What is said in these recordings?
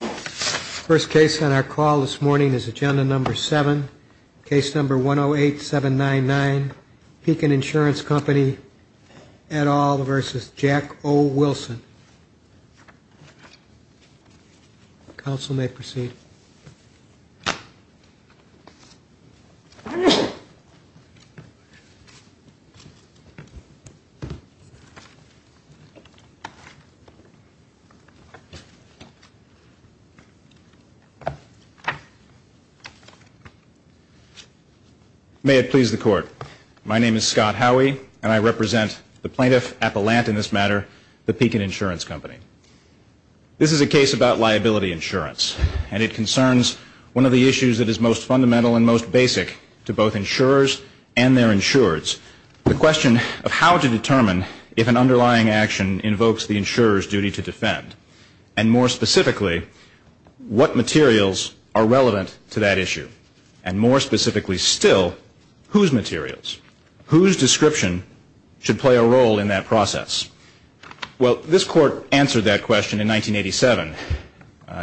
First case on our call this morning is agenda number seven, case number 108-799, Pekin Insurance Company, et al. v. Jack O. Wilson. Counsel may proceed. May it please the court. My name is Scott Howey, and I represent the plaintiff, Appelant in this matter, the Pekin Insurance Company. This is a case about liability insurance, and it concerns one of the issues that is most fundamental and most basic to both insurers and their insureds, the question of how to determine if an underlying action invokes the insurer's duty to defend. And more specifically, what materials are relevant to that issue. And more specifically still, whose materials, whose description should play a role in that process. Well, this court answered that question in 1987,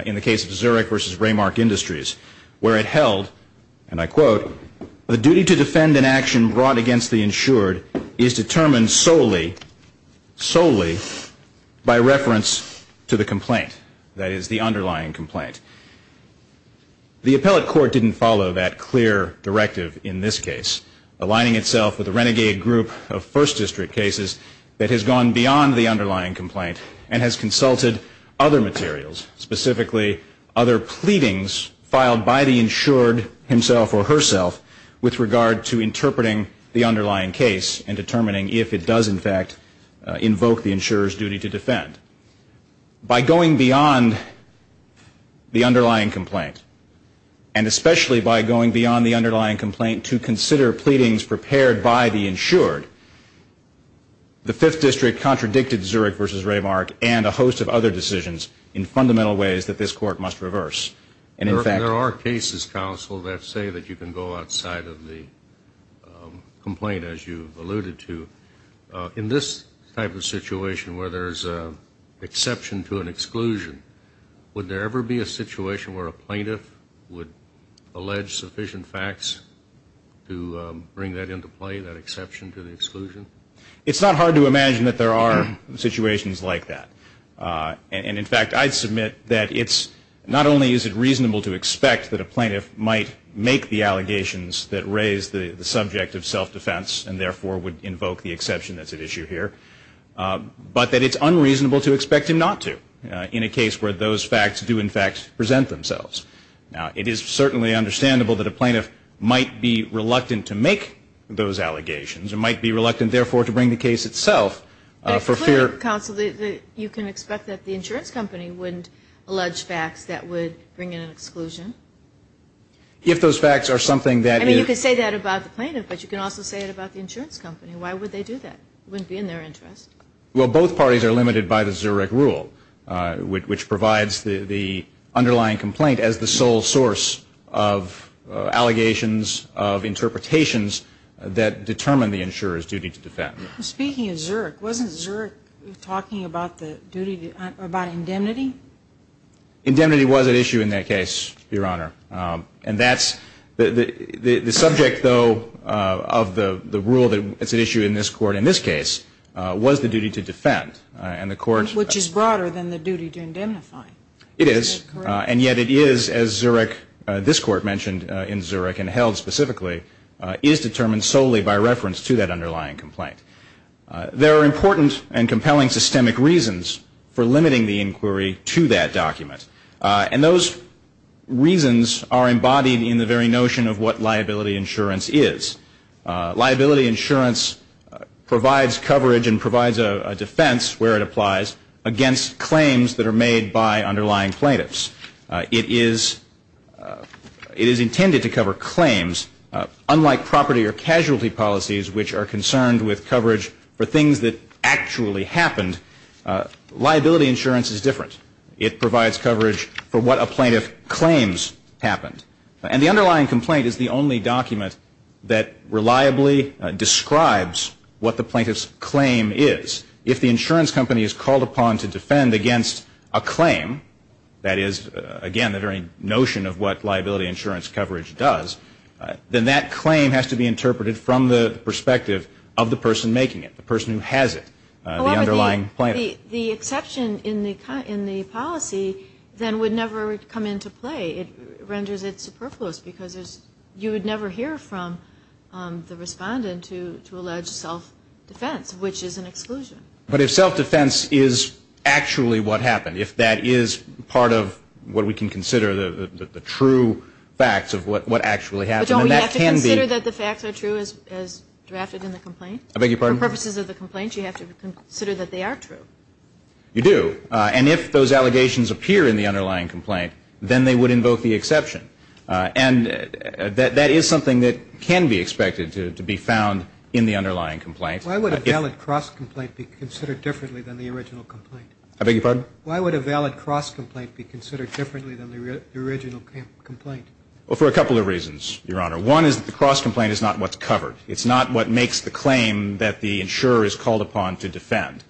in the case of Zurich v. Raymark Industries, where it held, and I quote, the duty to defend an action brought against the insured is determined solely, solely by reference to the insured. To the complaint, that is, the underlying complaint. The appellate court didn't follow that clear directive in this case, aligning itself with a renegade group of First District cases that has gone beyond the underlying complaint and has consulted other materials, specifically other pleadings filed by the insured himself or herself with regard to interpreting the underlying case and determining if it does, in fact, invoke the insurer's duty to defend. By going beyond the underlying complaint, and especially by going beyond the underlying complaint to consider pleadings prepared by the insured, the Fifth District contradicted Zurich v. Raymark and a host of other decisions in fundamental ways that this court must reverse. And in fact, there are cases, counsel, that say that you can go outside of the complaint, as you've alluded to. In this type of situation where there's an exception to an exclusion, would there ever be a situation where a plaintiff would allege sufficient facts to bring that into play, that exception to the exclusion? It's not hard to imagine that there are situations like that. And in fact, I submit that it's not only is it reasonable to expect that a plaintiff might make the allegations that raise the subject of self-defense and, therefore, would invoke the exception that's at issue here, but that it's unreasonable to expect him not to in a case where those facts do, in fact, present themselves. Now, it is certainly understandable that a plaintiff might be reluctant to make those allegations and might be reluctant, therefore, to bring the case itself for fear of... But clearly, counsel, you can expect that the insurance company wouldn't allege facts that would bring in an exclusion? If those facts are something that... I mean, you can say that about the plaintiff, but you can also say it about the insurance company. Why would they do that? It wouldn't be in their interest. Well, both parties are limited by the Zurich rule, which provides the underlying complaint as the sole source of allegations, of interpretations, that determine the insurer's duty to defend. Speaking of Zurich, wasn't Zurich talking about the duty, about indemnity? Indemnity was at issue in that case, Your Honor, and that's... The subject, though, of the rule that's at issue in this Court in this case was the duty to defend, and the Court... Which is broader than the duty to indemnify. It is, and yet it is, as Zurich, this Court mentioned in Zurich and held specifically, is determined solely by reference to that underlying complaint. There are important and compelling systemic reasons for limiting the inquiry to that document, and those reasons are embodied in the very notion of what liability insurance is. Liability insurance provides coverage and provides a defense, where it applies, against claims that are made by underlying plaintiffs. It is intended to cover claims, unlike property or casualty policies, which are concerned with coverage for things that actually happened, liability insurance is different. It provides coverage for what a plaintiff claims happened, and the underlying complaint is the only document that reliably describes what the plaintiff's claim is. If the insurance company is called upon to defend against a claim, that is, again, the very notion of what liability insurance coverage does, then that claim has to be interpreted from the perspective of the person making it, the person who has it, the underlying plaintiff. The exception in the policy, then, would never come into play. It renders it superfluous, because you would never hear from the respondent to allege self-defense, which is an exclusion. But if self-defense is actually what happened, if that is part of what we can consider the true facts of what actually happened, then that can be... But don't we have to consider that the facts are true as drafted in the complaint? I beg your pardon? For purposes of the complaint, you have to consider that they are true. You do. And if those allegations appear in the underlying complaint, then they would invoke the exception. And that is something that can be expected to be found in the underlying complaint. Why would a valid cross-complaint be considered differently than the original complaint? I beg your pardon? Well, for a couple of reasons, Your Honor. One is that the cross-complaint is not what's covered. It's not what makes the claim that the insurer is called upon to defend.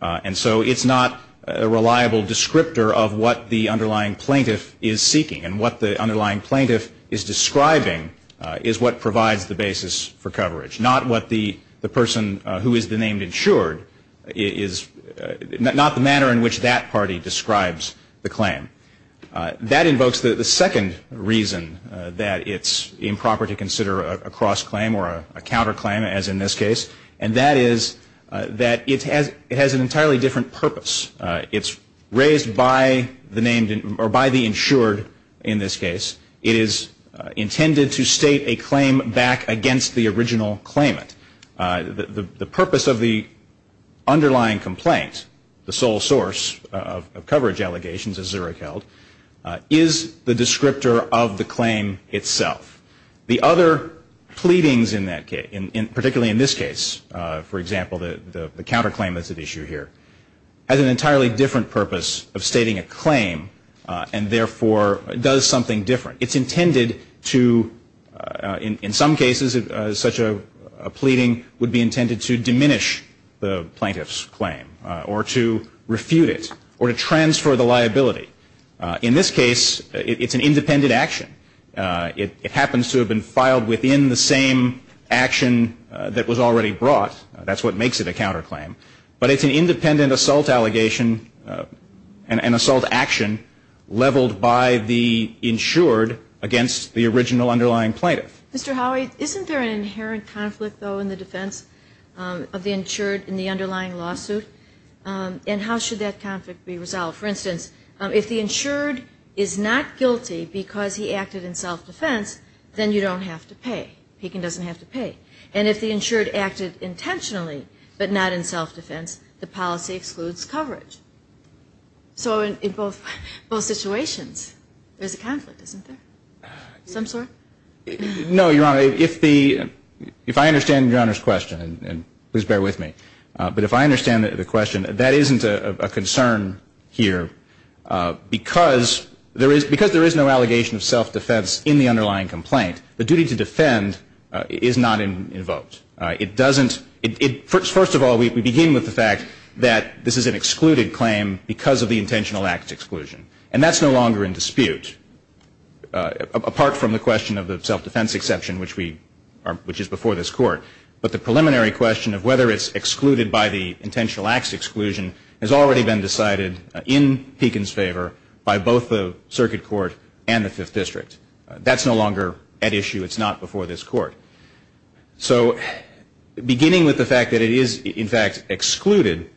And so it's not a reliable descriptor of what the underlying plaintiff is seeking. And what the underlying plaintiff is describing is what provides the basis for coverage, not what the person who is the named insured, not the manner in which that party describes the claim. That invokes the second reason that it's improper to consider a cross-claim or a counter-claim, as in this case, and that is that it has an entirely different purpose. It's raised by the named or by the insured in this case. It is intended to state a claim back against the original claimant. The purpose of the underlying complaint, the sole source of coverage allegations, as Zurich held, is the descriptor of the claim itself. The other pleadings in that case, particularly in this case, for example, the counter-claim that's at issue here, has an entirely different purpose of stating a claim and, therefore, does something different. It's intended to, in some cases, such a pleading would be intended to diminish the plaintiff's claim or to refute it or to transfer the liability. In this case, it's an independent action. It happens to have been filed within the same action that was already brought. That's what makes it a counter-claim. But it's an independent assault allegation and assault action leveled by the insured against the original underlying plaintiff. Mr. Howey, isn't there an inherent conflict, though, in the defense of the insured in the underlying lawsuit? And how should that conflict be resolved? For instance, if the insured is not guilty because he acted in self-defense, then you don't have to pay. Pekin doesn't have to pay. And if the insured acted intentionally but not in self-defense, the policy excludes coverage. So in both situations, there's a conflict, isn't there? No, Your Honor. If I understand Your Honor's question, and please bear with me, but if I understand the question, that isn't a concern here because there is no allegation of self-defense in the underlying complaint. The duty to defend is not invoked. First of all, we begin with the fact that this is an excluded claim because of the intentional act exclusion. And that's no longer in dispute, apart from the question of the self-defense exception, which is before this Court. But the preliminary question of whether it's excluded by the intentional acts exclusion has already been decided in Pekin's favor by both the Circuit Court and the Fifth District. That's no longer at issue. It's not before this Court. So beginning with the fact that it is, in fact, excluded,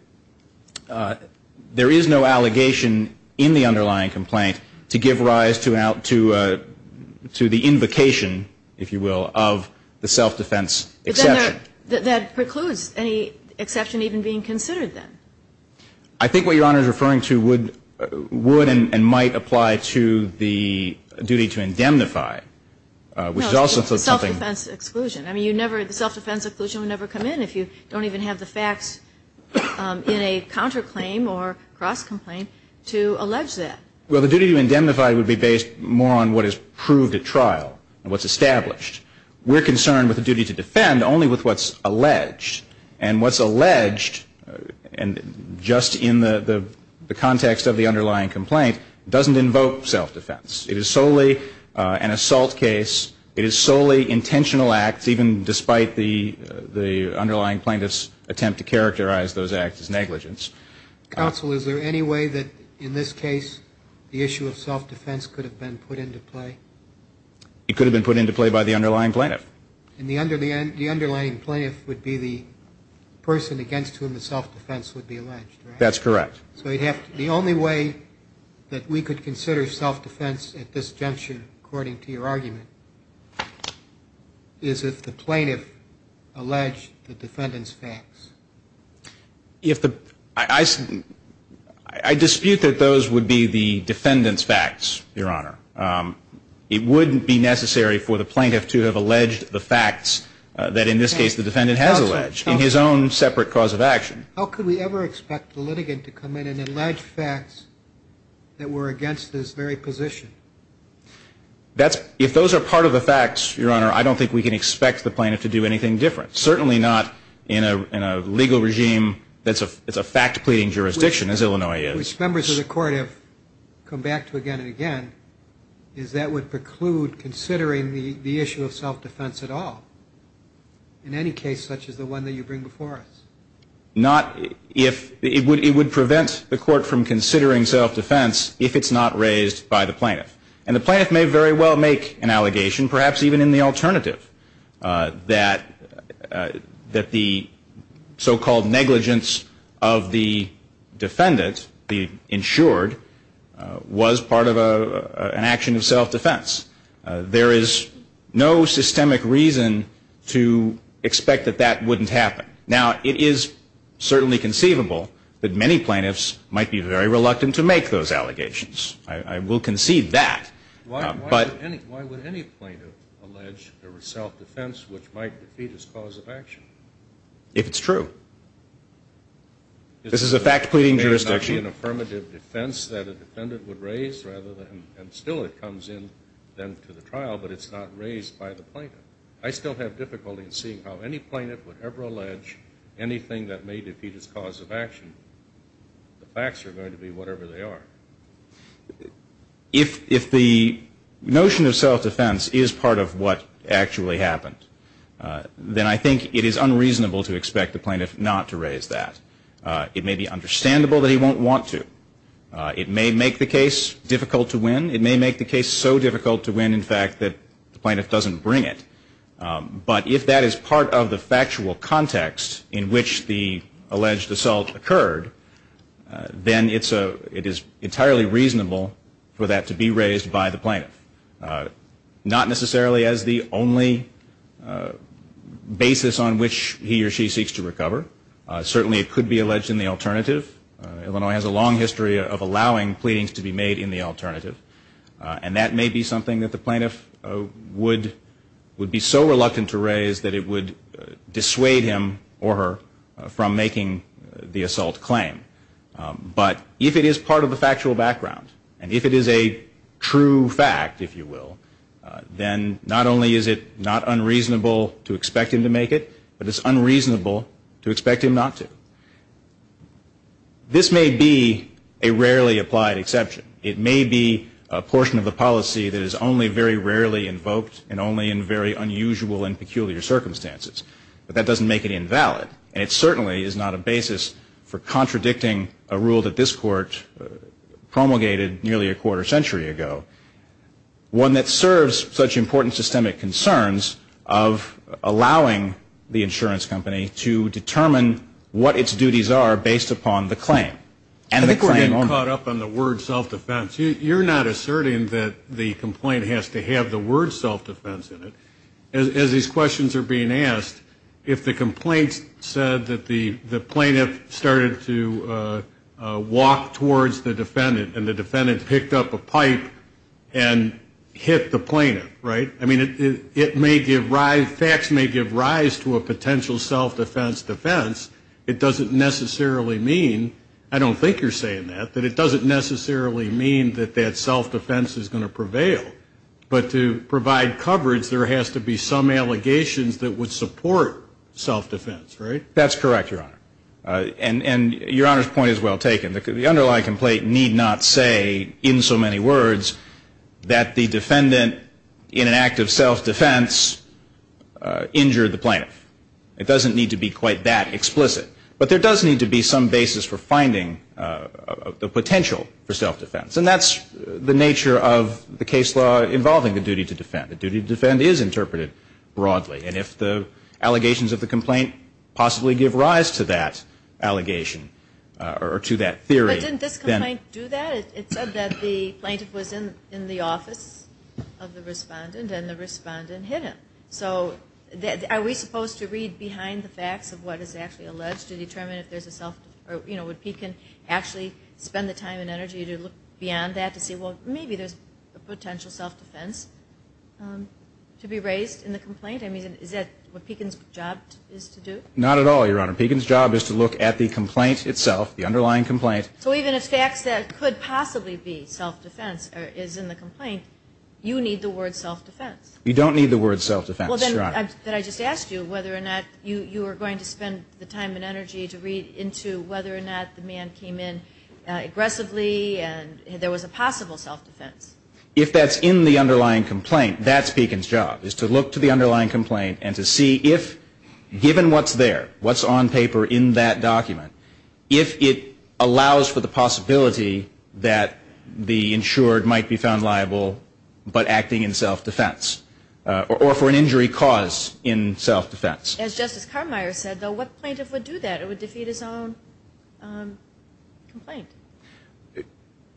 there is no allegation in the underlying complaint to give rise to the invocation, if you will, of the self-defense exception. But that precludes any exception even being considered then. I think what Your Honor is referring to would and might apply to the duty to indemnify, which is also something. No, it's the self-defense exclusion. I mean, the self-defense exclusion would never come in if you don't even have the facts in a counterclaim or cross-complaint to allege that. Well, the duty to indemnify would be based more on what is proved at trial and what's established. We're concerned with the duty to defend only with what's alleged. And what's alleged, just in the context of the underlying complaint, doesn't invoke self-defense. It is solely an assault case. It is solely intentional acts, even despite the underlying plaintiff's attempt to characterize those acts as negligence. Counsel, is there any way that in this case the issue of self-defense could have been put into play? It could have been put into play by the underlying plaintiff. And the underlying plaintiff would be the person against whom the self-defense would be alleged, right? That's correct. So the only way that we could consider self-defense at this juncture, according to your argument, is to have the plaintiff come in and allege facts that were against this very position. I dispute that those would be the defendant's facts, Your Honor. It wouldn't be necessary for the plaintiff to have alleged the facts that, in this case, the defendant has alleged in his own separate cause of action. How could we ever expect the litigant to come in and allege facts that were against this very position? If those are part of the facts, Your Honor, I don't think we can expect the plaintiff to do anything different. Certainly not in a legal regime that's a fact-pleading jurisdiction, as Illinois is. Which members of the Court have come back to again and again, is that would preclude considering the issue of self-defense at all, in any case such as the one that you bring before us. It would prevent the Court from considering self-defense if it's not raised by the plaintiff. And the plaintiff may very well make an allegation, perhaps even in the alternative, that the so-called negligence of the defendant, the insured, was part of an action of self-defense. There is no systemic reason to expect that that wouldn't happen. Now, it is certainly conceivable that many plaintiffs might be very reluctant to make those allegations. I will concede that. Why would any plaintiff allege there was self-defense which might defeat his cause of action? If it's true. This is a fact-pleading jurisdiction. It may not be an affirmative defense that a defendant would raise, and still it comes into the trial, but it's not raised by the plaintiff. I still have difficulty in seeing how any plaintiff would ever allege anything that may defeat his cause of action. The facts are going to be whatever they are. If the notion of self-defense is part of what actually happened, then I think it is unreasonable to expect the plaintiff not to raise that. It may be understandable that he won't want to. It may make the case difficult to win. It may make the case so difficult to win, in fact, that the plaintiff doesn't bring it. But if that is part of the factual context in which the alleged assault occurred, then it is entirely reasonable for that to be raised by the plaintiff. Not necessarily as the only basis on which he or she seeks to recover. Certainly it could be alleged in the alternative. Illinois has a long history of allowing pleadings to be made in the alternative. And that may be something that the plaintiff would be so reluctant to raise that it would dissuade him or her from making the assault claim. But if it is part of the factual background, and if it is a true fact, if you will, then not only is it not unreasonable to expect him to make it, but it's unreasonable to expect him not to. This may be a rarely applied exception. It may be a portion of the policy that is only very rarely invoked and only in very unusual and peculiar circumstances. But that doesn't make it invalid. And it certainly is not a basis for contradicting a rule that this Court promulgated nearly a quarter century ago. One that serves such important systemic concerns of allowing the insurance company to determine what its duties are based upon the claim. I think we're getting caught up on the word self-defense. You're not asserting that the complaint has to have the word self-defense in it. As these questions are being asked, if the complaint said that the plaintiff started to walk towards the defendant and the defendant picked up a pipe and hit the plaintiff, right? I mean, it may give rise, facts may give rise to a potential self-defense defense. It doesn't necessarily mean, I don't think you're saying that, that it doesn't necessarily mean that that self-defense is going to prevail. But to provide coverage, there has to be some allegations that would support self-defense, right? That's correct, Your Honor. And Your Honor's point is well taken. The underlying complaint need not say in so many words that the defendant in an act of self-defense injured the plaintiff. It doesn't need to be quite that explicit. But there does need to be some basis for finding the potential for self-defense. And that's the nature of the case law involving the duty to defend. The duty to defend is interpreted broadly. And if the allegations of the complaint possibly give rise to that allegation or to that theory. But didn't this complaint do that? It said that the plaintiff was in the office of the respondent and the respondent hit him. So are we supposed to read behind the facts of what is actually alleged to determine if there's a self-defense, you know, would he can actually spend the time and energy to look beyond that to see, well, maybe there's a potential self-defense to be raised in the complaint. I mean, is that what Pekin's job is to do? Not at all, Your Honor. Pekin's job is to look at the complaint itself, the underlying complaint. So even if facts that could possibly be self-defense is in the complaint, you need the word self-defense. You don't need the word self-defense, Your Honor. Well, then did I just ask you whether or not you were going to spend the time and energy to read into whether or not the man came in aggressively and there was a possible self-defense? If that's in the underlying complaint, that's Pekin's job is to look to the underlying complaint and to see if, given what's there, what's on paper in that document, if it allows for the possibility that the insured might be found liable but acting in self-defense or for an injury cause in self-defense. As Justice Carmire said, though, what plaintiff would do that? It would defeat his own complaint.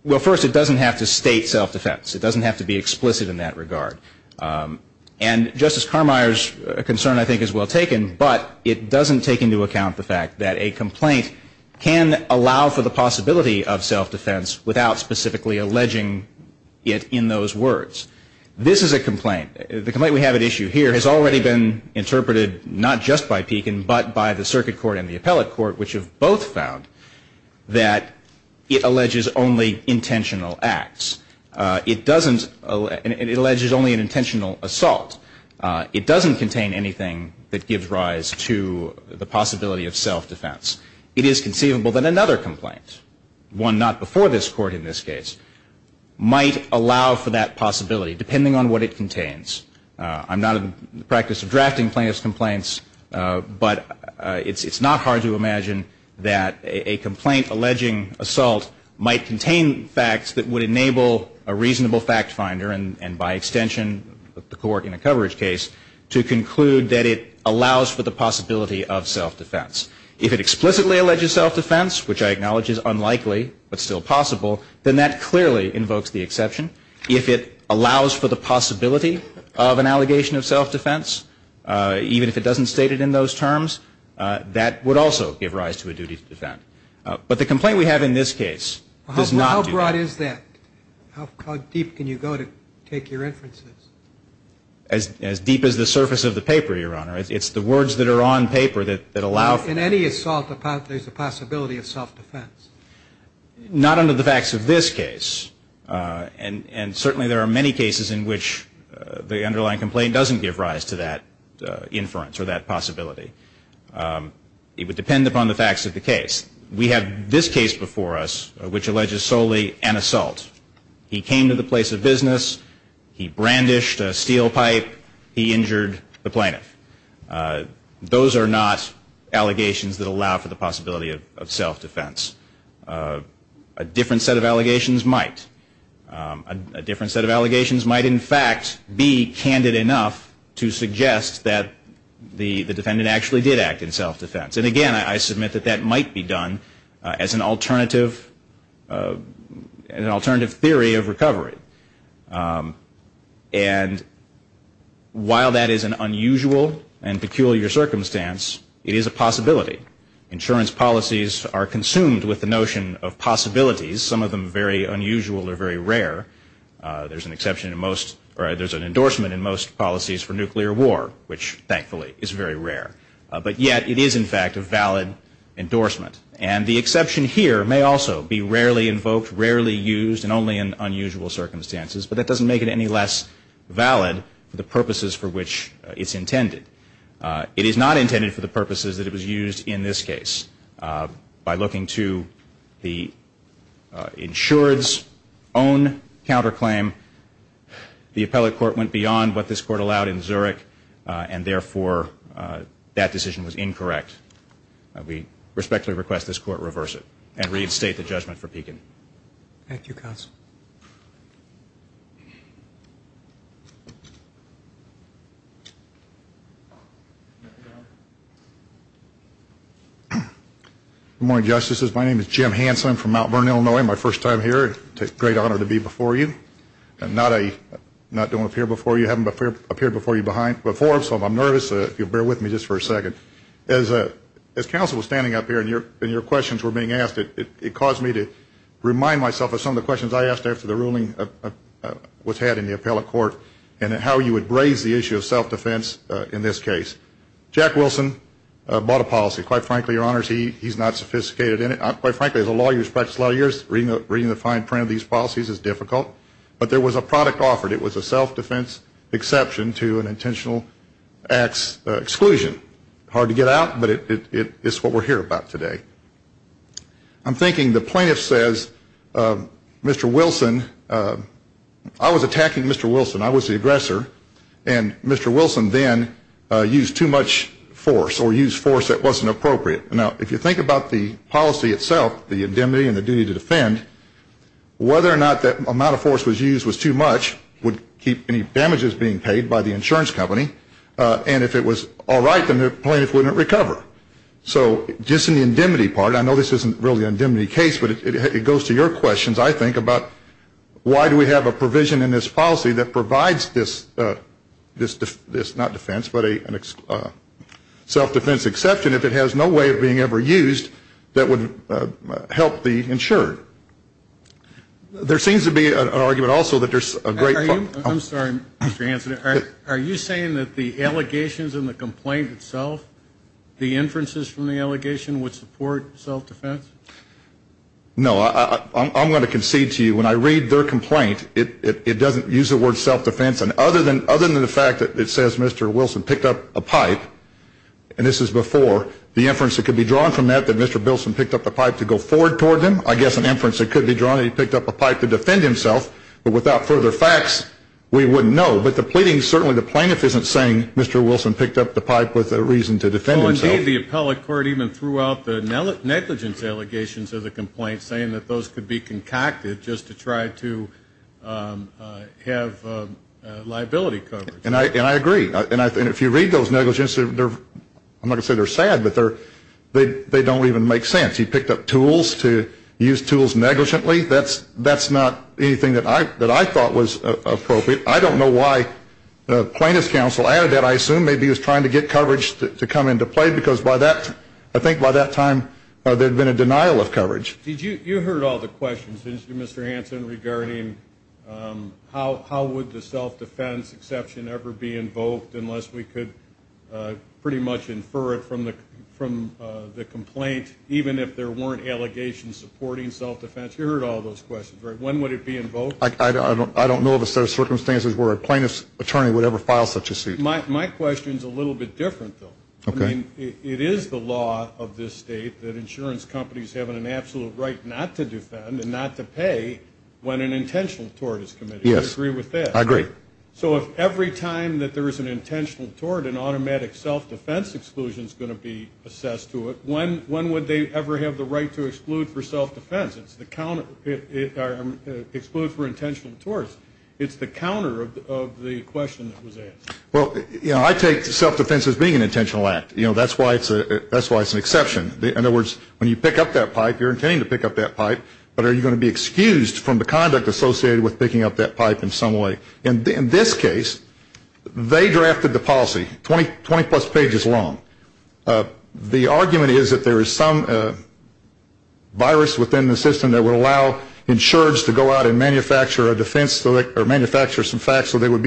Well, first, it doesn't have to state self-defense. It doesn't have to be explicit in that regard. And Justice Carmire's concern, I think, is well taken, but it doesn't take into account the fact that a complaint can allow for the possibility of self-defense without specifically alleging it in those words. This is a complaint. The complaint we have at issue here has already been interpreted not just by Pekin but by the circuit court and the appellate court, which have both found that it alleges only intentional acts. It doesn't – it alleges only an intentional assault. It doesn't contain anything that gives rise to the possibility of self-defense. It is conceivable that another complaint, one not before this court in this case, might allow for that possibility depending on what it contains. I'm not in the practice of drafting plaintiff's complaints, but it's not hard to imagine that a complaint alleging assault might contain facts that would enable a reasonable fact finder and by extension the court in a coverage case to conclude that it allows for the possibility of self-defense. If it explicitly alleges self-defense, which I acknowledge is unlikely but still possible, then that clearly invokes the exception. If it allows for the possibility of an allegation of self-defense, even if it doesn't state it in those terms, that would also give rise to a duty to defend. But the complaint we have in this case does not do that. How broad is that? How deep can you go to take your inferences? As deep as the surface of the paper, Your Honor. It's the words that are on paper that allow for that. In any assault, there's a possibility of self-defense. Not under the facts of this case. And certainly there are many cases in which the underlying complaint doesn't give rise to that inference or that possibility. It would depend upon the facts of the case. We have this case before us which alleges solely an assault. He came to the place of business. He brandished a steel pipe. He injured the plaintiff. Those are not allegations that allow for the possibility of self-defense. A different set of allegations might. A different set of allegations might, in fact, be candid enough to suggest that the defendant actually did act in self-defense. And again, I submit that that might be done as an alternative theory of recovery. And while that is an unusual and peculiar circumstance, it is a possibility. Insurance policies are consumed with the notion of possibilities, some of them very unusual or very rare. There's an exception in most or there's an endorsement in most policies for nuclear war, which thankfully is very rare. But yet it is, in fact, a valid endorsement. And the exception here may also be rarely invoked, rarely used, and only in unusual circumstances. But that doesn't make it any less valid for the purposes for which it's intended. It is not intended for the purposes that it was used in this case. By looking to the insured's own counterclaim, the appellate court went beyond what this court allowed in Zurich, and therefore that decision was incorrect. We respectfully request this court reverse it and reinstate the judgment for Pekin. Thank you, Counsel. Good morning, Justices. My name is Jim Hansen. I'm from Mount Vernon, Illinois. My first time here. It's a great honor to be before you. I'm not doing up here before you. I haven't appeared before you before, so I'm nervous. If you'll bear with me just for a second. As Counsel was standing up here and your questions were being asked, it caused me to remind myself of some of the questions I asked after the ruling was had in the appellate court and how you would raise the issue of self-defense in this case. Jack Wilson bought a policy. Quite frankly, Your Honors, he's not sophisticated in it. Quite frankly, as a lawyer who's practiced law years, reading the fine print of these policies is difficult. But there was a product offered. It was a self-defense exception to an intentional acts exclusion. Hard to get out, but it's what we're here about today. I'm thinking the plaintiff says, Mr. Wilson, I was attacking Mr. Wilson. I was the aggressor. And Mr. Wilson then used too much force or used force that wasn't appropriate. Now, if you think about the policy itself, the indemnity and the duty to defend, whether or not that amount of force was used was too much would keep any damages being paid by the insurance company. And if it was all right, then the plaintiff wouldn't recover. So just in the indemnity part, I know this isn't really an indemnity case, but it goes to your questions, I think, about why do we have a provision in this policy that provides this, not defense, but a self-defense exception if it has no way of being ever used that would help the insured. There seems to be an argument also that there's a great. I'm sorry, Mr. Hanson. Are you saying that the allegations in the complaint itself, the inferences from the allegation would support self-defense? No. I'm going to concede to you. When I read their complaint, it doesn't use the word self-defense. And other than the fact that it says Mr. Wilson picked up a pipe, and this is before, the inference that could be drawn from that that Mr. Bilson picked up a pipe to go forward toward them, I guess an inference that could be drawn that he picked up a pipe to defend himself. But without further facts, we wouldn't know. But the pleading, certainly the plaintiff isn't saying Mr. Wilson picked up the pipe with a reason to defend himself. Well, indeed, the appellate court even threw out the negligence allegations of the complaint, saying that those could be concocted just to try to have liability coverage. And I agree. And if you read those negligences, I'm not going to say they're sad, but they don't even make sense. He picked up tools to use tools negligently. That's not anything that I thought was appropriate. I don't know why plaintiff's counsel added that. I assume maybe he was trying to get coverage to come into play, because by that, I think by that time, there had been a denial of coverage. You heard all the questions, didn't you, Mr. Hanson, regarding how would the self-defense exception ever be invoked unless we could pretty much infer it from the complaint, even if there weren't allegations supporting self-defense? You heard all those questions, right? When would it be invoked? I don't know of a set of circumstances where a plaintiff's attorney would ever file such a suit. My question is a little bit different, though. I mean, it is the law of this state that insurance companies have an absolute right not to defend and not to pay when an intentional tort is committed. I agree with that. I agree. So if every time that there is an intentional tort, an automatic self-defense exclusion is going to be assessed to it, when would they ever have the right to exclude for self-defense? It's the counter of the question that was asked. Well, you know, I take self-defense as being an intentional act. You know, that's why it's an exception. In other words, when you pick up that pipe, you're intending to pick up that pipe, but are you going to be excused from the conduct associated with picking up that pipe in some way? In this case, they drafted the policy 20-plus pages long. The argument is that there is some virus within the system that would allow insurers to go out and manufacture some facts so that they would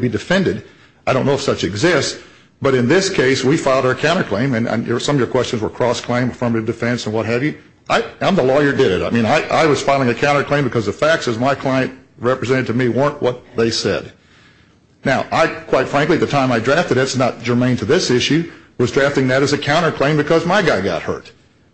be defended. I don't know if such exists, but in this case, we filed our counterclaim, and some of your questions were cross-claim, affirmative defense, and what have you. I'm the lawyer that did it. I mean, I was filing a counterclaim because the facts, as my client represented to me, weren't what they said. Now, I, quite frankly, at the time I drafted it, it's not germane to this issue, was drafting that as a counterclaim because my guy got hurt.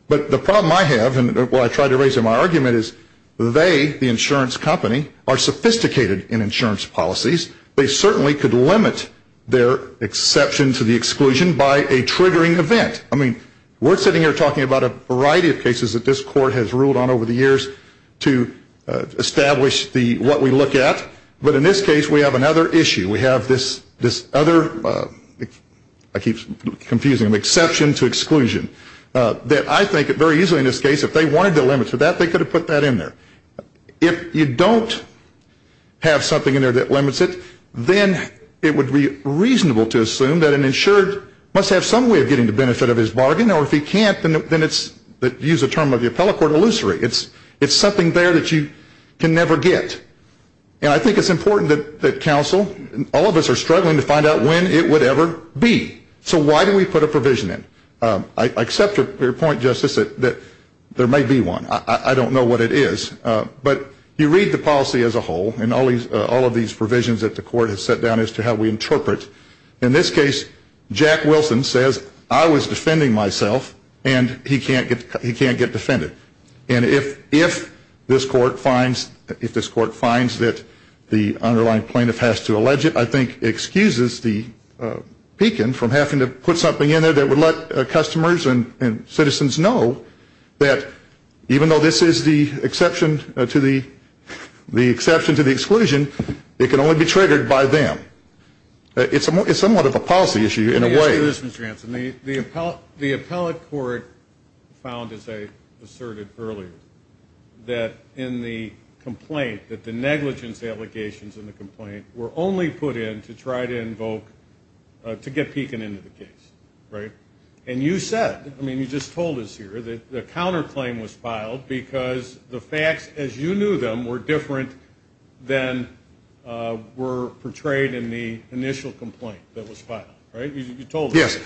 But the problem I have, and what I try to raise in my argument, is they, the insurance company, are sophisticated in insurance policies. They certainly could limit their exception to the exclusion by a triggering event. I mean, we're sitting here talking about a variety of cases that this court has ruled on over the years to establish what we look at. But in this case, we have another issue. We have this other, I keep confusing them, exception to exclusion, that I think very easily in this case, if they wanted to limit to that, they could have put that in there. If you don't have something in there that limits it, then it would be reasonable to assume that an insured must have some way of getting the benefit of his bargain, or if he can't, then it's, use the term of the appellate court, illusory. It's something there that you can never get. And I think it's important that counsel, all of us are struggling to find out when it would ever be. So why do we put a provision in? I accept your point, Justice, that there may be one. I don't know what it is. But you read the policy as a whole, and all of these provisions that the court has set down as to how we interpret. In this case, Jack Wilson says, I was defending myself, and he can't get defended. And if this court finds that the underlying plaintiff has to allege it, I think excuses the beacon from having to put something in there that would let customers and citizens know that even though this is the exception to the exclusion, it can only be triggered by them. It's somewhat of a policy issue in a way. Let me tell you this, Mr. Hanson. The appellate court found, as I asserted earlier, that in the complaint, that the negligence allegations in the complaint were only put in to try to invoke, to get peaking into the case, right? And you said, I mean, you just told us here, that the counterclaim was filed because the facts, as you knew them, were different than were portrayed in the initial complaint that was filed, right? You told us. Yes.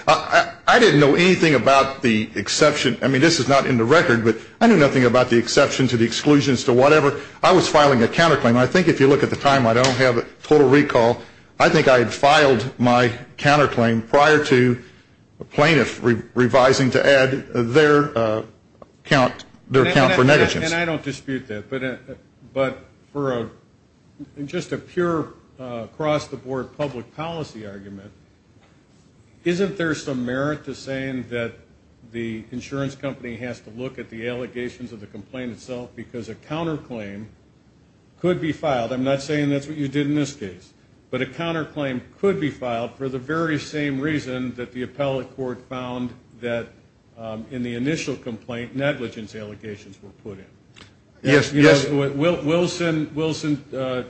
I didn't know anything about the exception. I mean, this is not in the record, but I knew nothing about the exception to the exclusions to whatever. I was filing a counterclaim. I think if you look at the time, I don't have a total recall. I think I had filed my counterclaim prior to a plaintiff revising to add their account for negligence. And I don't dispute that, but for just a pure across-the-board public policy argument, isn't there some merit to saying that the insurance company has to look at the allegations of the complaint itself because a counterclaim could be filed? I'm not saying that's what you did in this case, but a counterclaim could be filed for the very same reason that the appellate court found that in the initial complaint negligence allegations were put in. Yes, yes. Wilson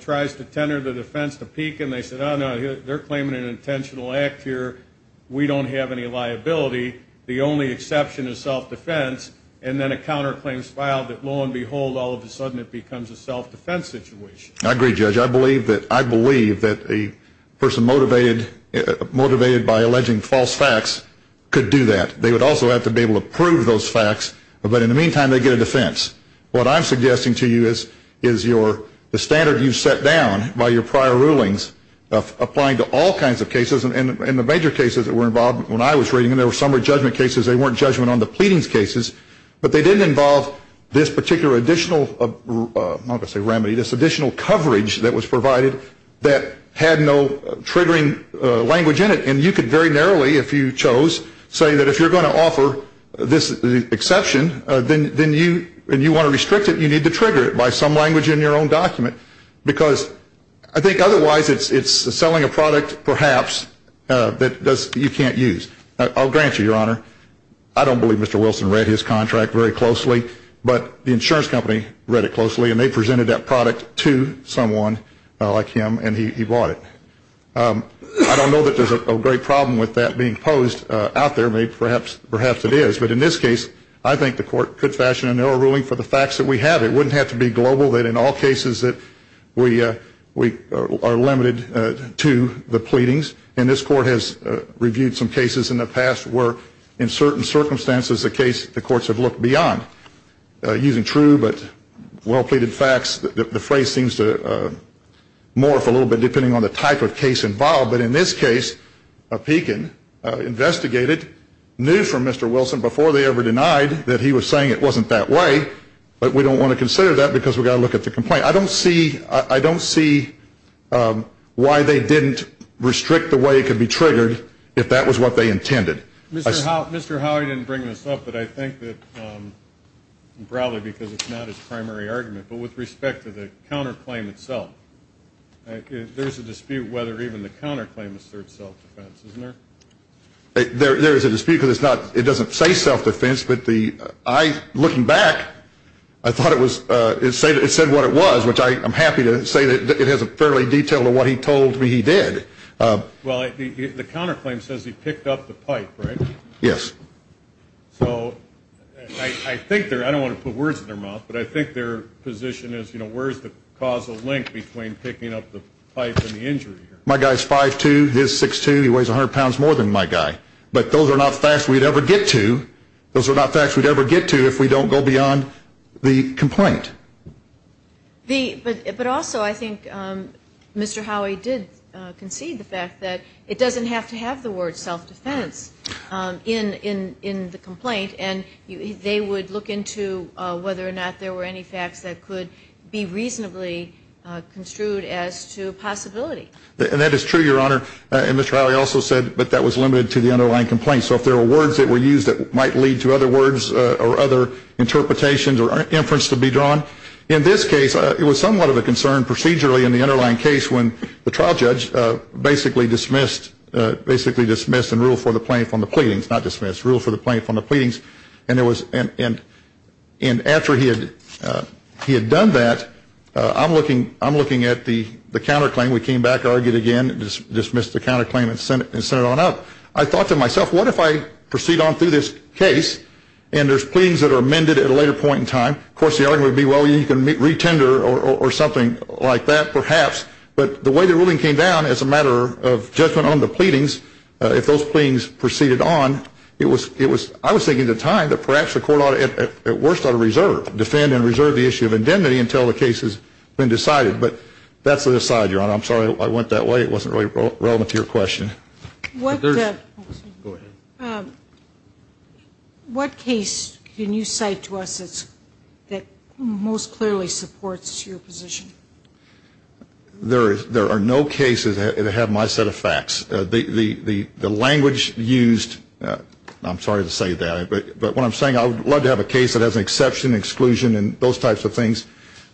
tries to tenor the defense to peak, and they said, oh, no, they're claiming an intentional act here. We don't have any liability. The only exception is self-defense. And then a counterclaim is filed that, lo and behold, all of a sudden it becomes a self-defense situation. I agree, Judge. I believe that a person motivated by alleging false facts could do that. They would also have to be able to prove those facts. But in the meantime, they get a defense. What I'm suggesting to you is the standard you set down by your prior rulings applying to all kinds of cases, and the major cases that were involved when I was reading them, there were summary judgment cases. They weren't judgment on the pleadings cases. But they didn't involve this particular additional, I'm not going to say remedy, this additional coverage that was provided that had no triggering language in it. And you could very narrowly, if you chose, say that if you're going to offer this exception, then you want to restrict it, you need to trigger it by some language in your own document. Because I think otherwise it's selling a product, perhaps, that you can't use. I'll grant you, Your Honor. I don't believe Mr. Wilson read his contract very closely, but the insurance company read it closely, and they presented that product to someone like him, and he bought it. I don't know that there's a great problem with that being posed out there. Perhaps it is. But in this case, I think the court could fashion an error ruling for the facts that we have. It wouldn't have to be global, that in all cases that we are limited to the pleadings. And this court has reviewed some cases in the past where in certain circumstances the courts have looked beyond, using true but well-pleaded facts. The phrase seems to morph a little bit depending on the type of case involved. But in this case, Pekin investigated, knew from Mr. Wilson before they ever denied that he was saying it wasn't that way, but we don't want to consider that because we've got to look at the complaint. I don't see why they didn't restrict the way it could be triggered if that was what they intended. Mr. Howey didn't bring this up, but I think that probably because it's not his primary argument, but with respect to the counterclaim itself, there's a dispute whether even the counterclaim asserts self-defense, isn't there? There is a dispute because it doesn't say self-defense. But I, looking back, I thought it said what it was, which I'm happy to say that it has a fairly detailed of what he told me he did. Well, the counterclaim says he picked up the pipe, right? Yes. So I think they're, I don't want to put words in their mouth, but I think their position is, you know, where is the causal link between picking up the pipe and the injury? My guy's 5'2", his 6'2", he weighs 100 pounds more than my guy. But those are not facts we'd ever get to. Those are not facts we'd ever get to if we don't go beyond the complaint. But also I think Mr. Howey did concede the fact that it doesn't have to have the word self-defense in the complaint, and they would look into whether or not there were any facts that could be reasonably construed as to possibility. And that is true, Your Honor. And Mr. Howey also said that that was limited to the underlying complaint. So if there were words that were used that might lead to other words or other interpretations or inference to be drawn. In this case, it was somewhat of a concern procedurally in the underlying case when the trial judge basically dismissed, basically dismissed and ruled for the plaintiff on the pleadings, not dismissed, ruled for the plaintiff on the pleadings. And after he had done that, I'm looking at the counterclaim. We came back, argued again, dismissed the counterclaim and sent it on up. I thought to myself, what if I proceed on through this case and there's pleadings that are amended at a later point in time? Of course, the argument would be, well, you can re-tender or something like that perhaps. But the way the ruling came down as a matter of judgment on the pleadings, if those pleadings proceeded on, I was thinking at the time that perhaps the court ought to at worst ought to reserve, defend and reserve the issue of indemnity until the case has been decided. But that's an aside, Your Honor. I'm sorry I went that way. It wasn't really relevant to your question. What case can you cite to us that most clearly supports your position? There are no cases that have my set of facts. The language used, I'm sorry to say that, but what I'm saying, I would love to have a case that has an exception, exclusion and those types of things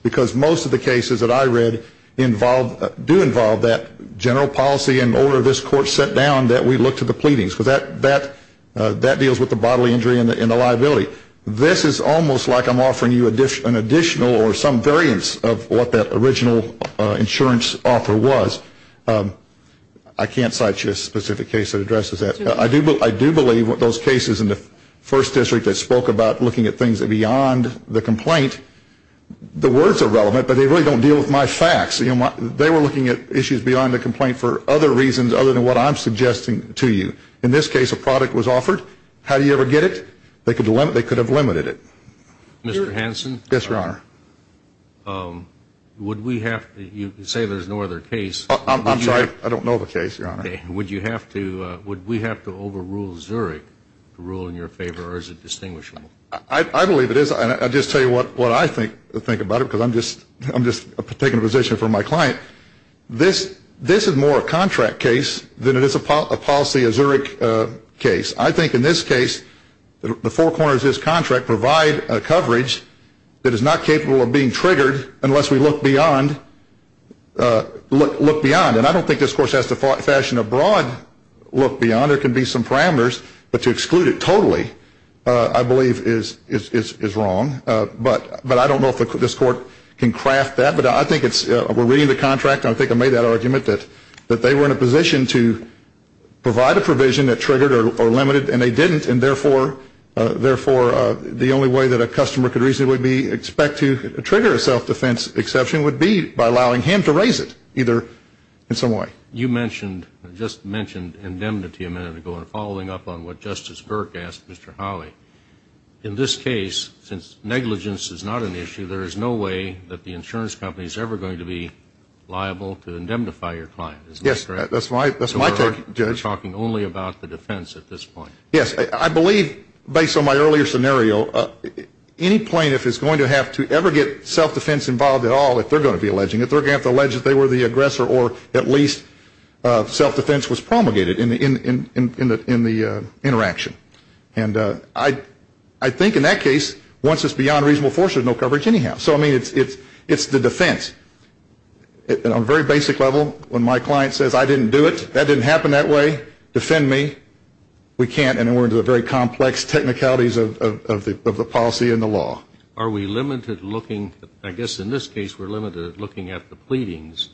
because most of the cases that I read involve, do involve that general policy and order this court set down that we look to the pleadings. Because that deals with the bodily injury and the liability. This is almost like I'm offering you an additional or some variance of what that original insurance offer was. I can't cite you a specific case that addresses that. I do believe those cases in the first district that spoke about looking at things beyond the complaint, the words are relevant, but they really don't deal with my facts. They were looking at issues beyond the complaint for other reasons other than what I'm suggesting to you. In this case, a product was offered. How do you ever get it? They could have limited it. Mr. Hanson? Yes, Your Honor. Would we have, you say there's no other case. I'm sorry, I don't know of a case, Your Honor. Would you have to, would we have to overrule Zurich to rule in your favor or is it distinguishable? I believe it is. I'll just tell you what I think about it because I'm just taking a position from my client. This is more a contract case than it is a policy, a Zurich case. I think in this case, the four corners of this contract provide coverage that is not capable of being triggered unless we look beyond, look beyond. And I don't think this court has to fashion a broad look beyond. There can be some parameters, but to exclude it totally, I believe, is wrong. But I don't know if this court can craft that. But I think it's, we're reading the contract, and I think I made that argument that they were in a position to provide a provision that triggered or limited, and they didn't. And therefore, the only way that a customer could reasonably expect to trigger a self-defense exception would be by allowing him to raise it either in some way. You mentioned, just mentioned indemnity a minute ago. And following up on what Justice Burke asked Mr. Hawley, in this case, since negligence is not an issue, there is no way that the insurance company is ever going to be liable to indemnify your client. Yes. That's my take, Judge. We're talking only about the defense at this point. Yes. I believe, based on my earlier scenario, any plaintiff is going to have to ever get self-defense involved at all if they're going to be alleging it. They're going to have to allege that they were the aggressor, or at least self-defense was promulgated in the interaction. And I think in that case, once it's beyond reasonable force, there's no coverage anyhow. So, I mean, it's the defense. On a very basic level, when my client says, I didn't do it, that didn't happen that way, defend me. We can't, and we're into the very complex technicalities of the policy and the law. Are we limited looking, I guess in this case we're limited looking at the pleadings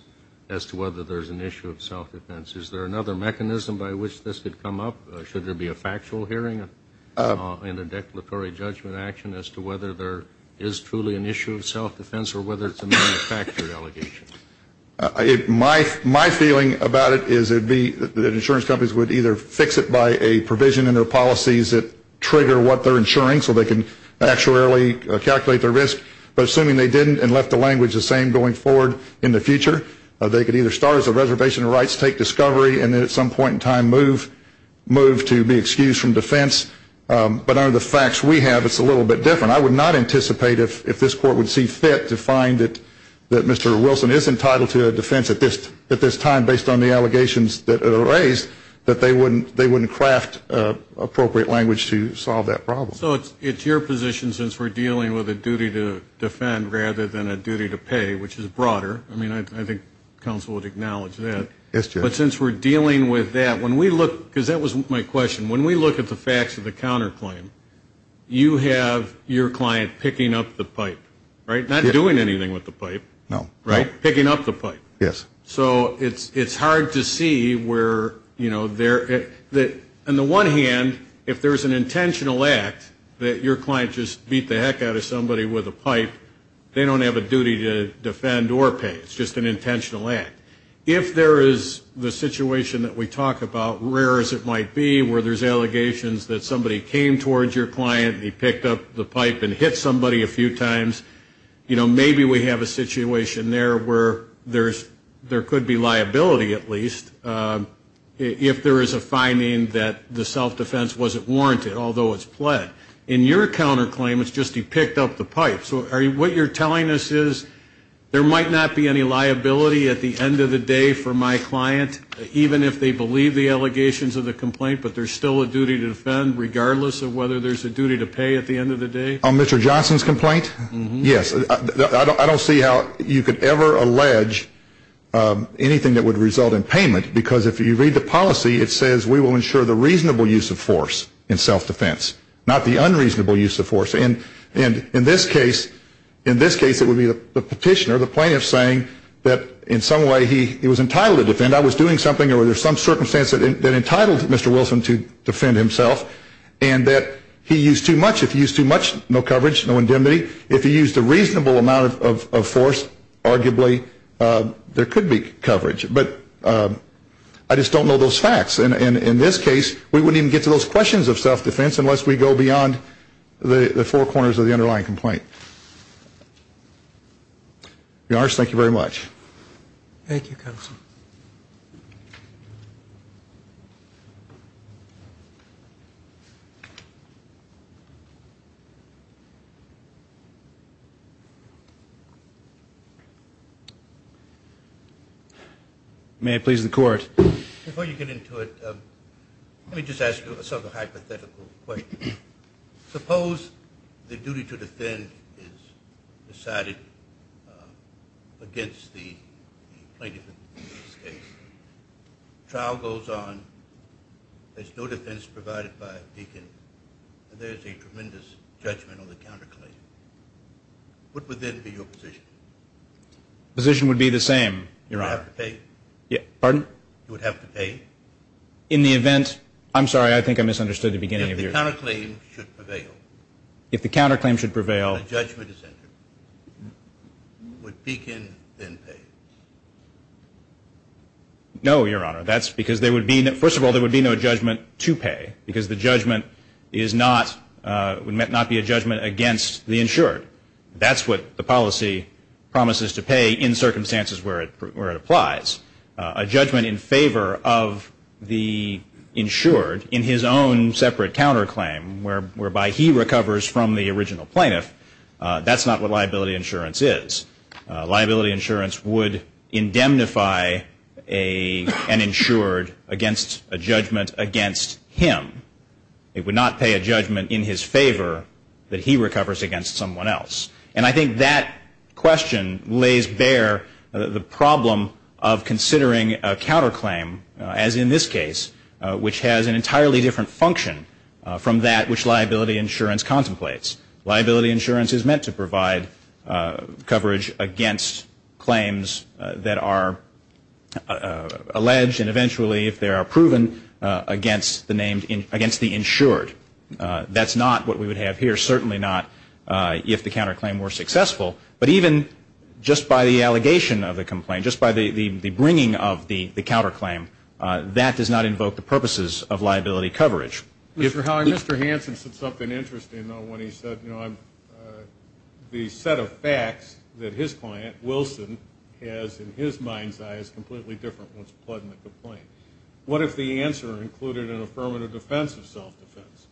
as to whether there's an issue of self-defense. Is there another mechanism by which this could come up? Should there be a factual hearing and a declaratory judgment action as to whether there is truly an issue of self-defense or whether it's a manufactured allegation? My feeling about it is it would be that insurance companies would either fix it by a provision in their policies that trigger what they're insuring so they can actuarially calculate their risk. But assuming they didn't and left the language the same going forward in the future, they could either start as a reservation of rights, take discovery, and then at some point in time move to be excused from defense. But under the facts we have, it's a little bit different. I would not anticipate if this court would see fit to find that Mr. Wilson is entitled to a defense at this time based on the allegations that are raised that they wouldn't craft appropriate language to solve that problem. So it's your position since we're dealing with a duty to defend rather than a duty to pay, which is broader. I mean, I think counsel would acknowledge that. Yes, Judge. But since we're dealing with that, when we look, because that was my question, when we look at the facts of the counterclaim, you have your client picking up the pipe, right? Not doing anything with the pipe. No. Right? Picking up the pipe. Yes. So it's hard to see where, you know, on the one hand, if there's an intentional act that your client just beat the heck out of somebody with a pipe, they don't have a duty to defend or pay. It's just an intentional act. If there is the situation that we talk about, rare as it might be, where there's allegations that somebody came towards your client and he picked up the pipe and hit somebody a few times, you know, maybe we have a situation there where there could be liability at least if there is a finding that the self-defense wasn't warranted, although it's pled. In your counterclaim, it's just he picked up the pipe. So what you're telling us is there might not be any liability at the end of the day for my client, even if they believe the allegations of the complaint, but there's still a duty to defend regardless of whether there's a duty to pay at the end of the day? On Mr. Johnson's complaint, yes. I don't see how you could ever allege anything that would result in payment, because if you read the policy, it says we will ensure the reasonable use of force in self-defense, not the unreasonable use of force. And in this case, it would be the petitioner, the plaintiff, saying that in some way he was entitled to defend. I was doing something or there was some circumstance that entitled Mr. Wilson to defend himself, and that he used too much. If he used too much, no coverage, no indemnity. If he used a reasonable amount of force, arguably there could be coverage. But I just don't know those facts. And in this case, we wouldn't even get to those questions of self-defense unless we go beyond the four corners of the underlying complaint. To be honest, thank you very much. Thank you, Counsel. May I please the Court? Before you get into it, let me just ask you a hypothetical question. Suppose the duty to defend is decided against the plaintiff in this case. The trial goes on, there's no defense provided by a deacon, and there's a tremendous judgment on the counterclaim. What would then be your position? The position would be the same, Your Honor. You would have to pay? Pardon? You would have to pay? If the counterclaim should prevail. If the counterclaim should prevail. The judgment is entered. Would deacon then pay? No, Your Honor. That's because there would be no judgment to pay because the judgment would not be a judgment against the insured. That's what the policy promises to pay in circumstances where it applies. A judgment in favor of the insured in his own separate counterclaim whereby he recovers from the original plaintiff, that's not what liability insurance is. Liability insurance would indemnify an insured against a judgment against him. It would not pay a judgment in his favor that he recovers against someone else. And I think that question lays bare the problem of considering a counterclaim, as in this case, which has an entirely different function from that which liability insurance contemplates. Liability insurance is meant to provide coverage against claims that are alleged and eventually, if they are proven, against the insured. That's not what we would have here. Certainly not if the counterclaim were successful. But even just by the allegation of the complaint, just by the bringing of the counterclaim, that does not invoke the purposes of liability coverage. Mr. Howe, Mr. Hansen said something interesting when he said, you know, the set of facts that his client, Wilson, has in his mind's eye is completely different once plugged in the complaint. What if the answer included an affirmative defense of self-defense?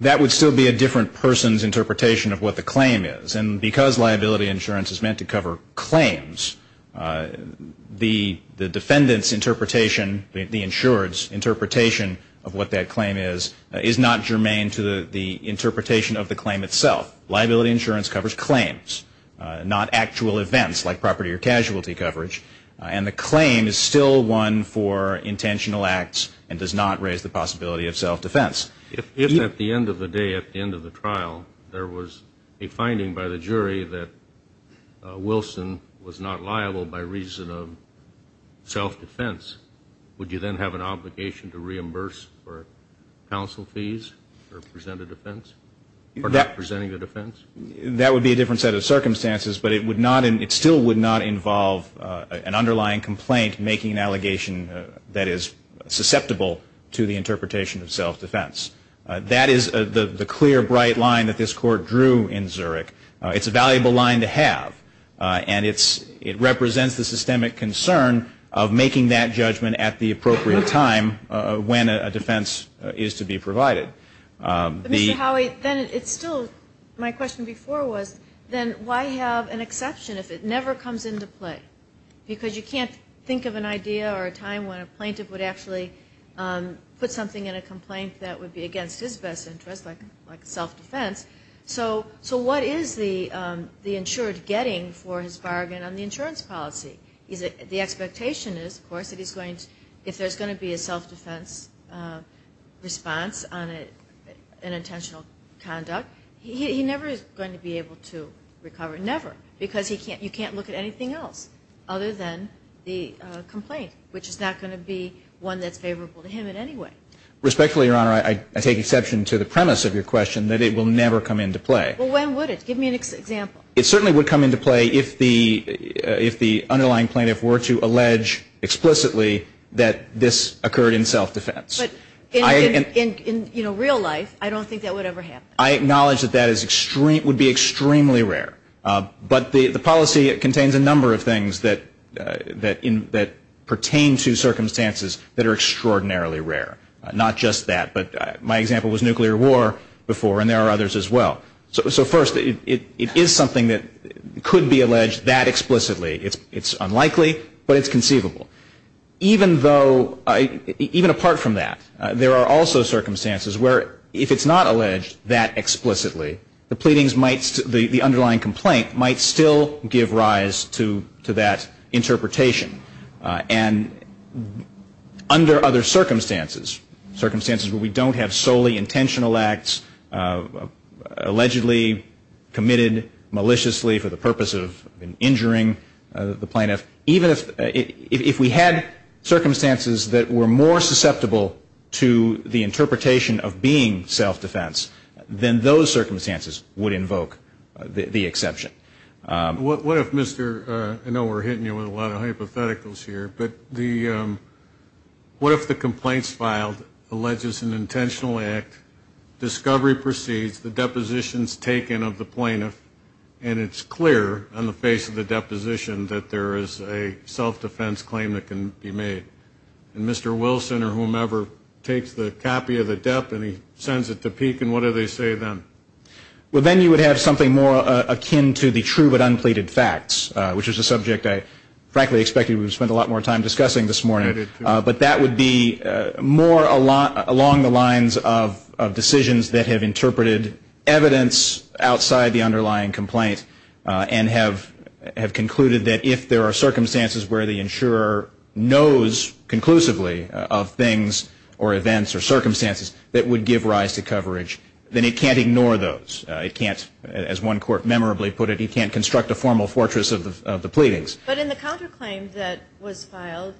That would still be a different person's interpretation of what the claim is. And because liability insurance is meant to cover claims, the defendant's interpretation, the insured's interpretation of what that claim is, is not germane to the interpretation of the claim itself. Liability insurance covers claims, not actual events like property or casualty coverage. And the claim is still one for intentional acts and does not raise the possibility of self-defense. If at the end of the day, at the end of the trial, there was a finding by the jury that Wilson was not liable by reason of self-defense, would you then have an obligation to reimburse for counsel fees or present a defense? Or not presenting a defense? That would be a different set of circumstances. But it would not, it still would not involve an underlying complaint making an allegation that is susceptible to the interpretation of self-defense. That is the clear, bright line that this Court drew in Zurich. It's a valuable line to have. And it represents the systemic concern of making that judgment at the appropriate time when a defense is to be provided. Mr. Howey, then it's still, my question before was, then why have an exception if it never comes into play? Because you can't think of an idea or a time when a plaintiff would actually put something in a complaint that would be against his best interest, like self-defense. So what is the insured getting for his bargain on the insurance policy? The expectation is, of course, that he's going to, if there's going to be a self-defense response on an intentional conduct, he never is going to be able to recover, never. Because you can't look at anything else other than the complaint, which is not going to be one that's favorable to him in any way. Respectfully, Your Honor, I take exception to the premise of your question that it will never come into play. Well, when would it? Give me an example. It certainly would come into play if the underlying plaintiff were to allege explicitly that this occurred in self-defense. But in real life, I don't think that would ever happen. I acknowledge that that would be extremely rare. But the policy contains a number of things that pertain to circumstances that are extraordinarily rare. Not just that, but my example was nuclear war before, and there are others as well. So first, it is something that could be alleged that explicitly. It's unlikely, but it's conceivable. Even though, even apart from that, there are also circumstances where if it's not alleged that explicitly, the pleadings might, the underlying complaint might still give rise to that interpretation. And under other circumstances, circumstances where we don't have solely intentional acts, allegedly committed maliciously for the purpose of injuring the plaintiff, even if we had circumstances that were more susceptible to the interpretation of being self-defense, then those circumstances would invoke the exception. What if Mr. I know we're hitting you with a lot of hypotheticals here, but what if the complaints filed alleges an intentional act, discovery proceeds, the depositions taken of the plaintiff, and it's clear on the face of the deposition that there is a self-defense claim that can be made. And Mr. Wilson or whomever takes the copy of the dep, and he sends it to Peek, and what do they say then? Well, then you would have something more akin to the true but unpleaded facts, which is a subject I frankly expected we would spend a lot more time discussing this morning. But that would be more along the lines of decisions that have interpreted evidence outside the underlying complaint and have concluded that if there are circumstances where the insurer knows conclusively of things or events or circumstances that would give rise to coverage, then it can't ignore those. It can't, as one court memorably put it, it can't construct a formal fortress of the pleadings. But in the counterclaim that was filed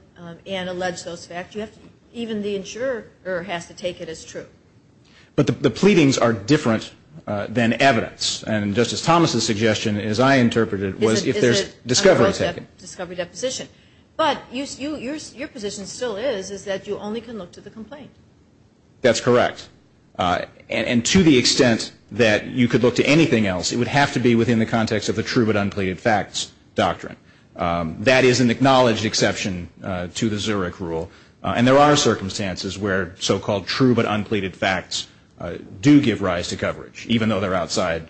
and alleged those facts, even the insurer has to take it as true. But the pleadings are different than evidence. And Justice Thomas's suggestion, as I interpreted it, was if there's discovery taken. But your position still is that you only can look to the complaint. That's correct. And to the extent that you could look to anything else, it would have to be within the context of the true but unpleaded facts doctrine. That is an acknowledged exception to the Zurich rule. And there are circumstances where so-called true but unpleaded facts do give rise to coverage, even though they're outside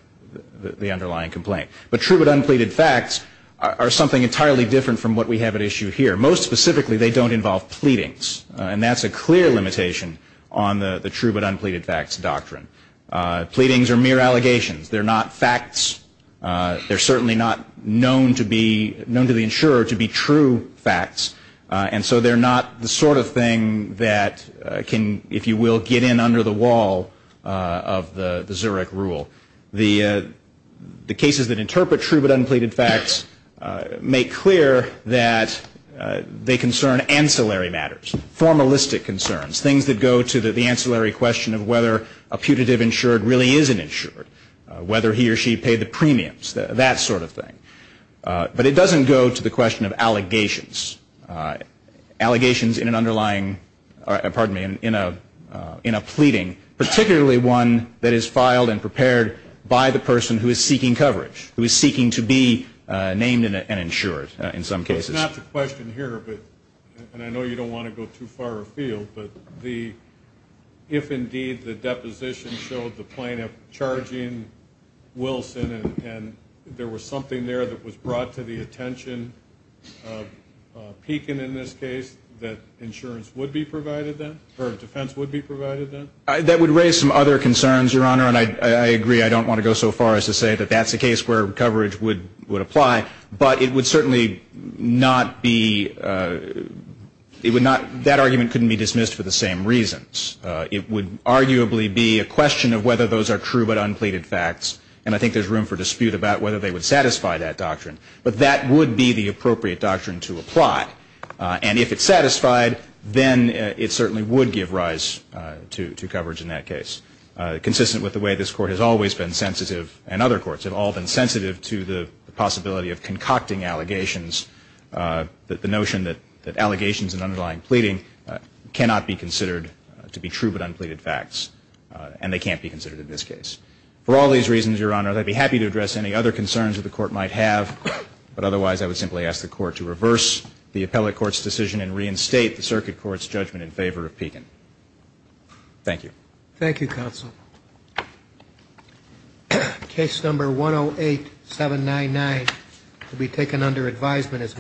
the underlying complaint. But true but unpleaded facts are something entirely different from what we have at issue here. Most specifically, they don't involve pleadings. And that's a clear limitation on the true but unpleaded facts doctrine. Pleadings are mere allegations. They're not facts. They're certainly not known to the insurer to be true facts. And so they're not the sort of thing that can, if you will, get in under the wall of the Zurich rule. The cases that interpret true but unpleaded facts make clear that they concern ancillary matters, formalistic concerns, things that go to the ancillary question of whether a putative insured really is an insured, whether he or she paid the premiums, that sort of thing. But it doesn't go to the question of allegations. Allegations in an underlying, pardon me, in a pleading, particularly one that is filed and prepared by the person who is seeking coverage, who is seeking to be named an insured in some cases. It's not the question here, and I know you don't want to go too far afield, but if indeed the deposition showed the plaintiff charging Wilson and there was something there that was brought to the attention of Pekin in this case, that insurance would be provided then, or defense would be provided then? That would raise some other concerns, Your Honor, and I agree I don't want to go so far as to say that that's a case where coverage would apply. But it would certainly not be, it would not, that argument couldn't be dismissed for the same reasons. It would arguably be a question of whether those are true but unpleaded facts, and I think there's room for dispute about whether they would satisfy that doctrine. But that would be the appropriate doctrine to apply. And if it's satisfied, then it certainly would give rise to coverage in that case. Consistent with the way this Court has always been sensitive, and other courts have all been sensitive to the possibility of concocting allegations, the notion that allegations and underlying pleading cannot be considered to be true but unpleaded facts, and they can't be considered in this case. For all these reasons, Your Honor, I'd be happy to address any other concerns that the Court might have, but otherwise I would simply ask the Court to reverse the appellate court's decision and reinstate the circuit court's judgment in favor of Pekin. Thank you. Thank you, counsel. Case number 108-799 will be taken under advisement as well.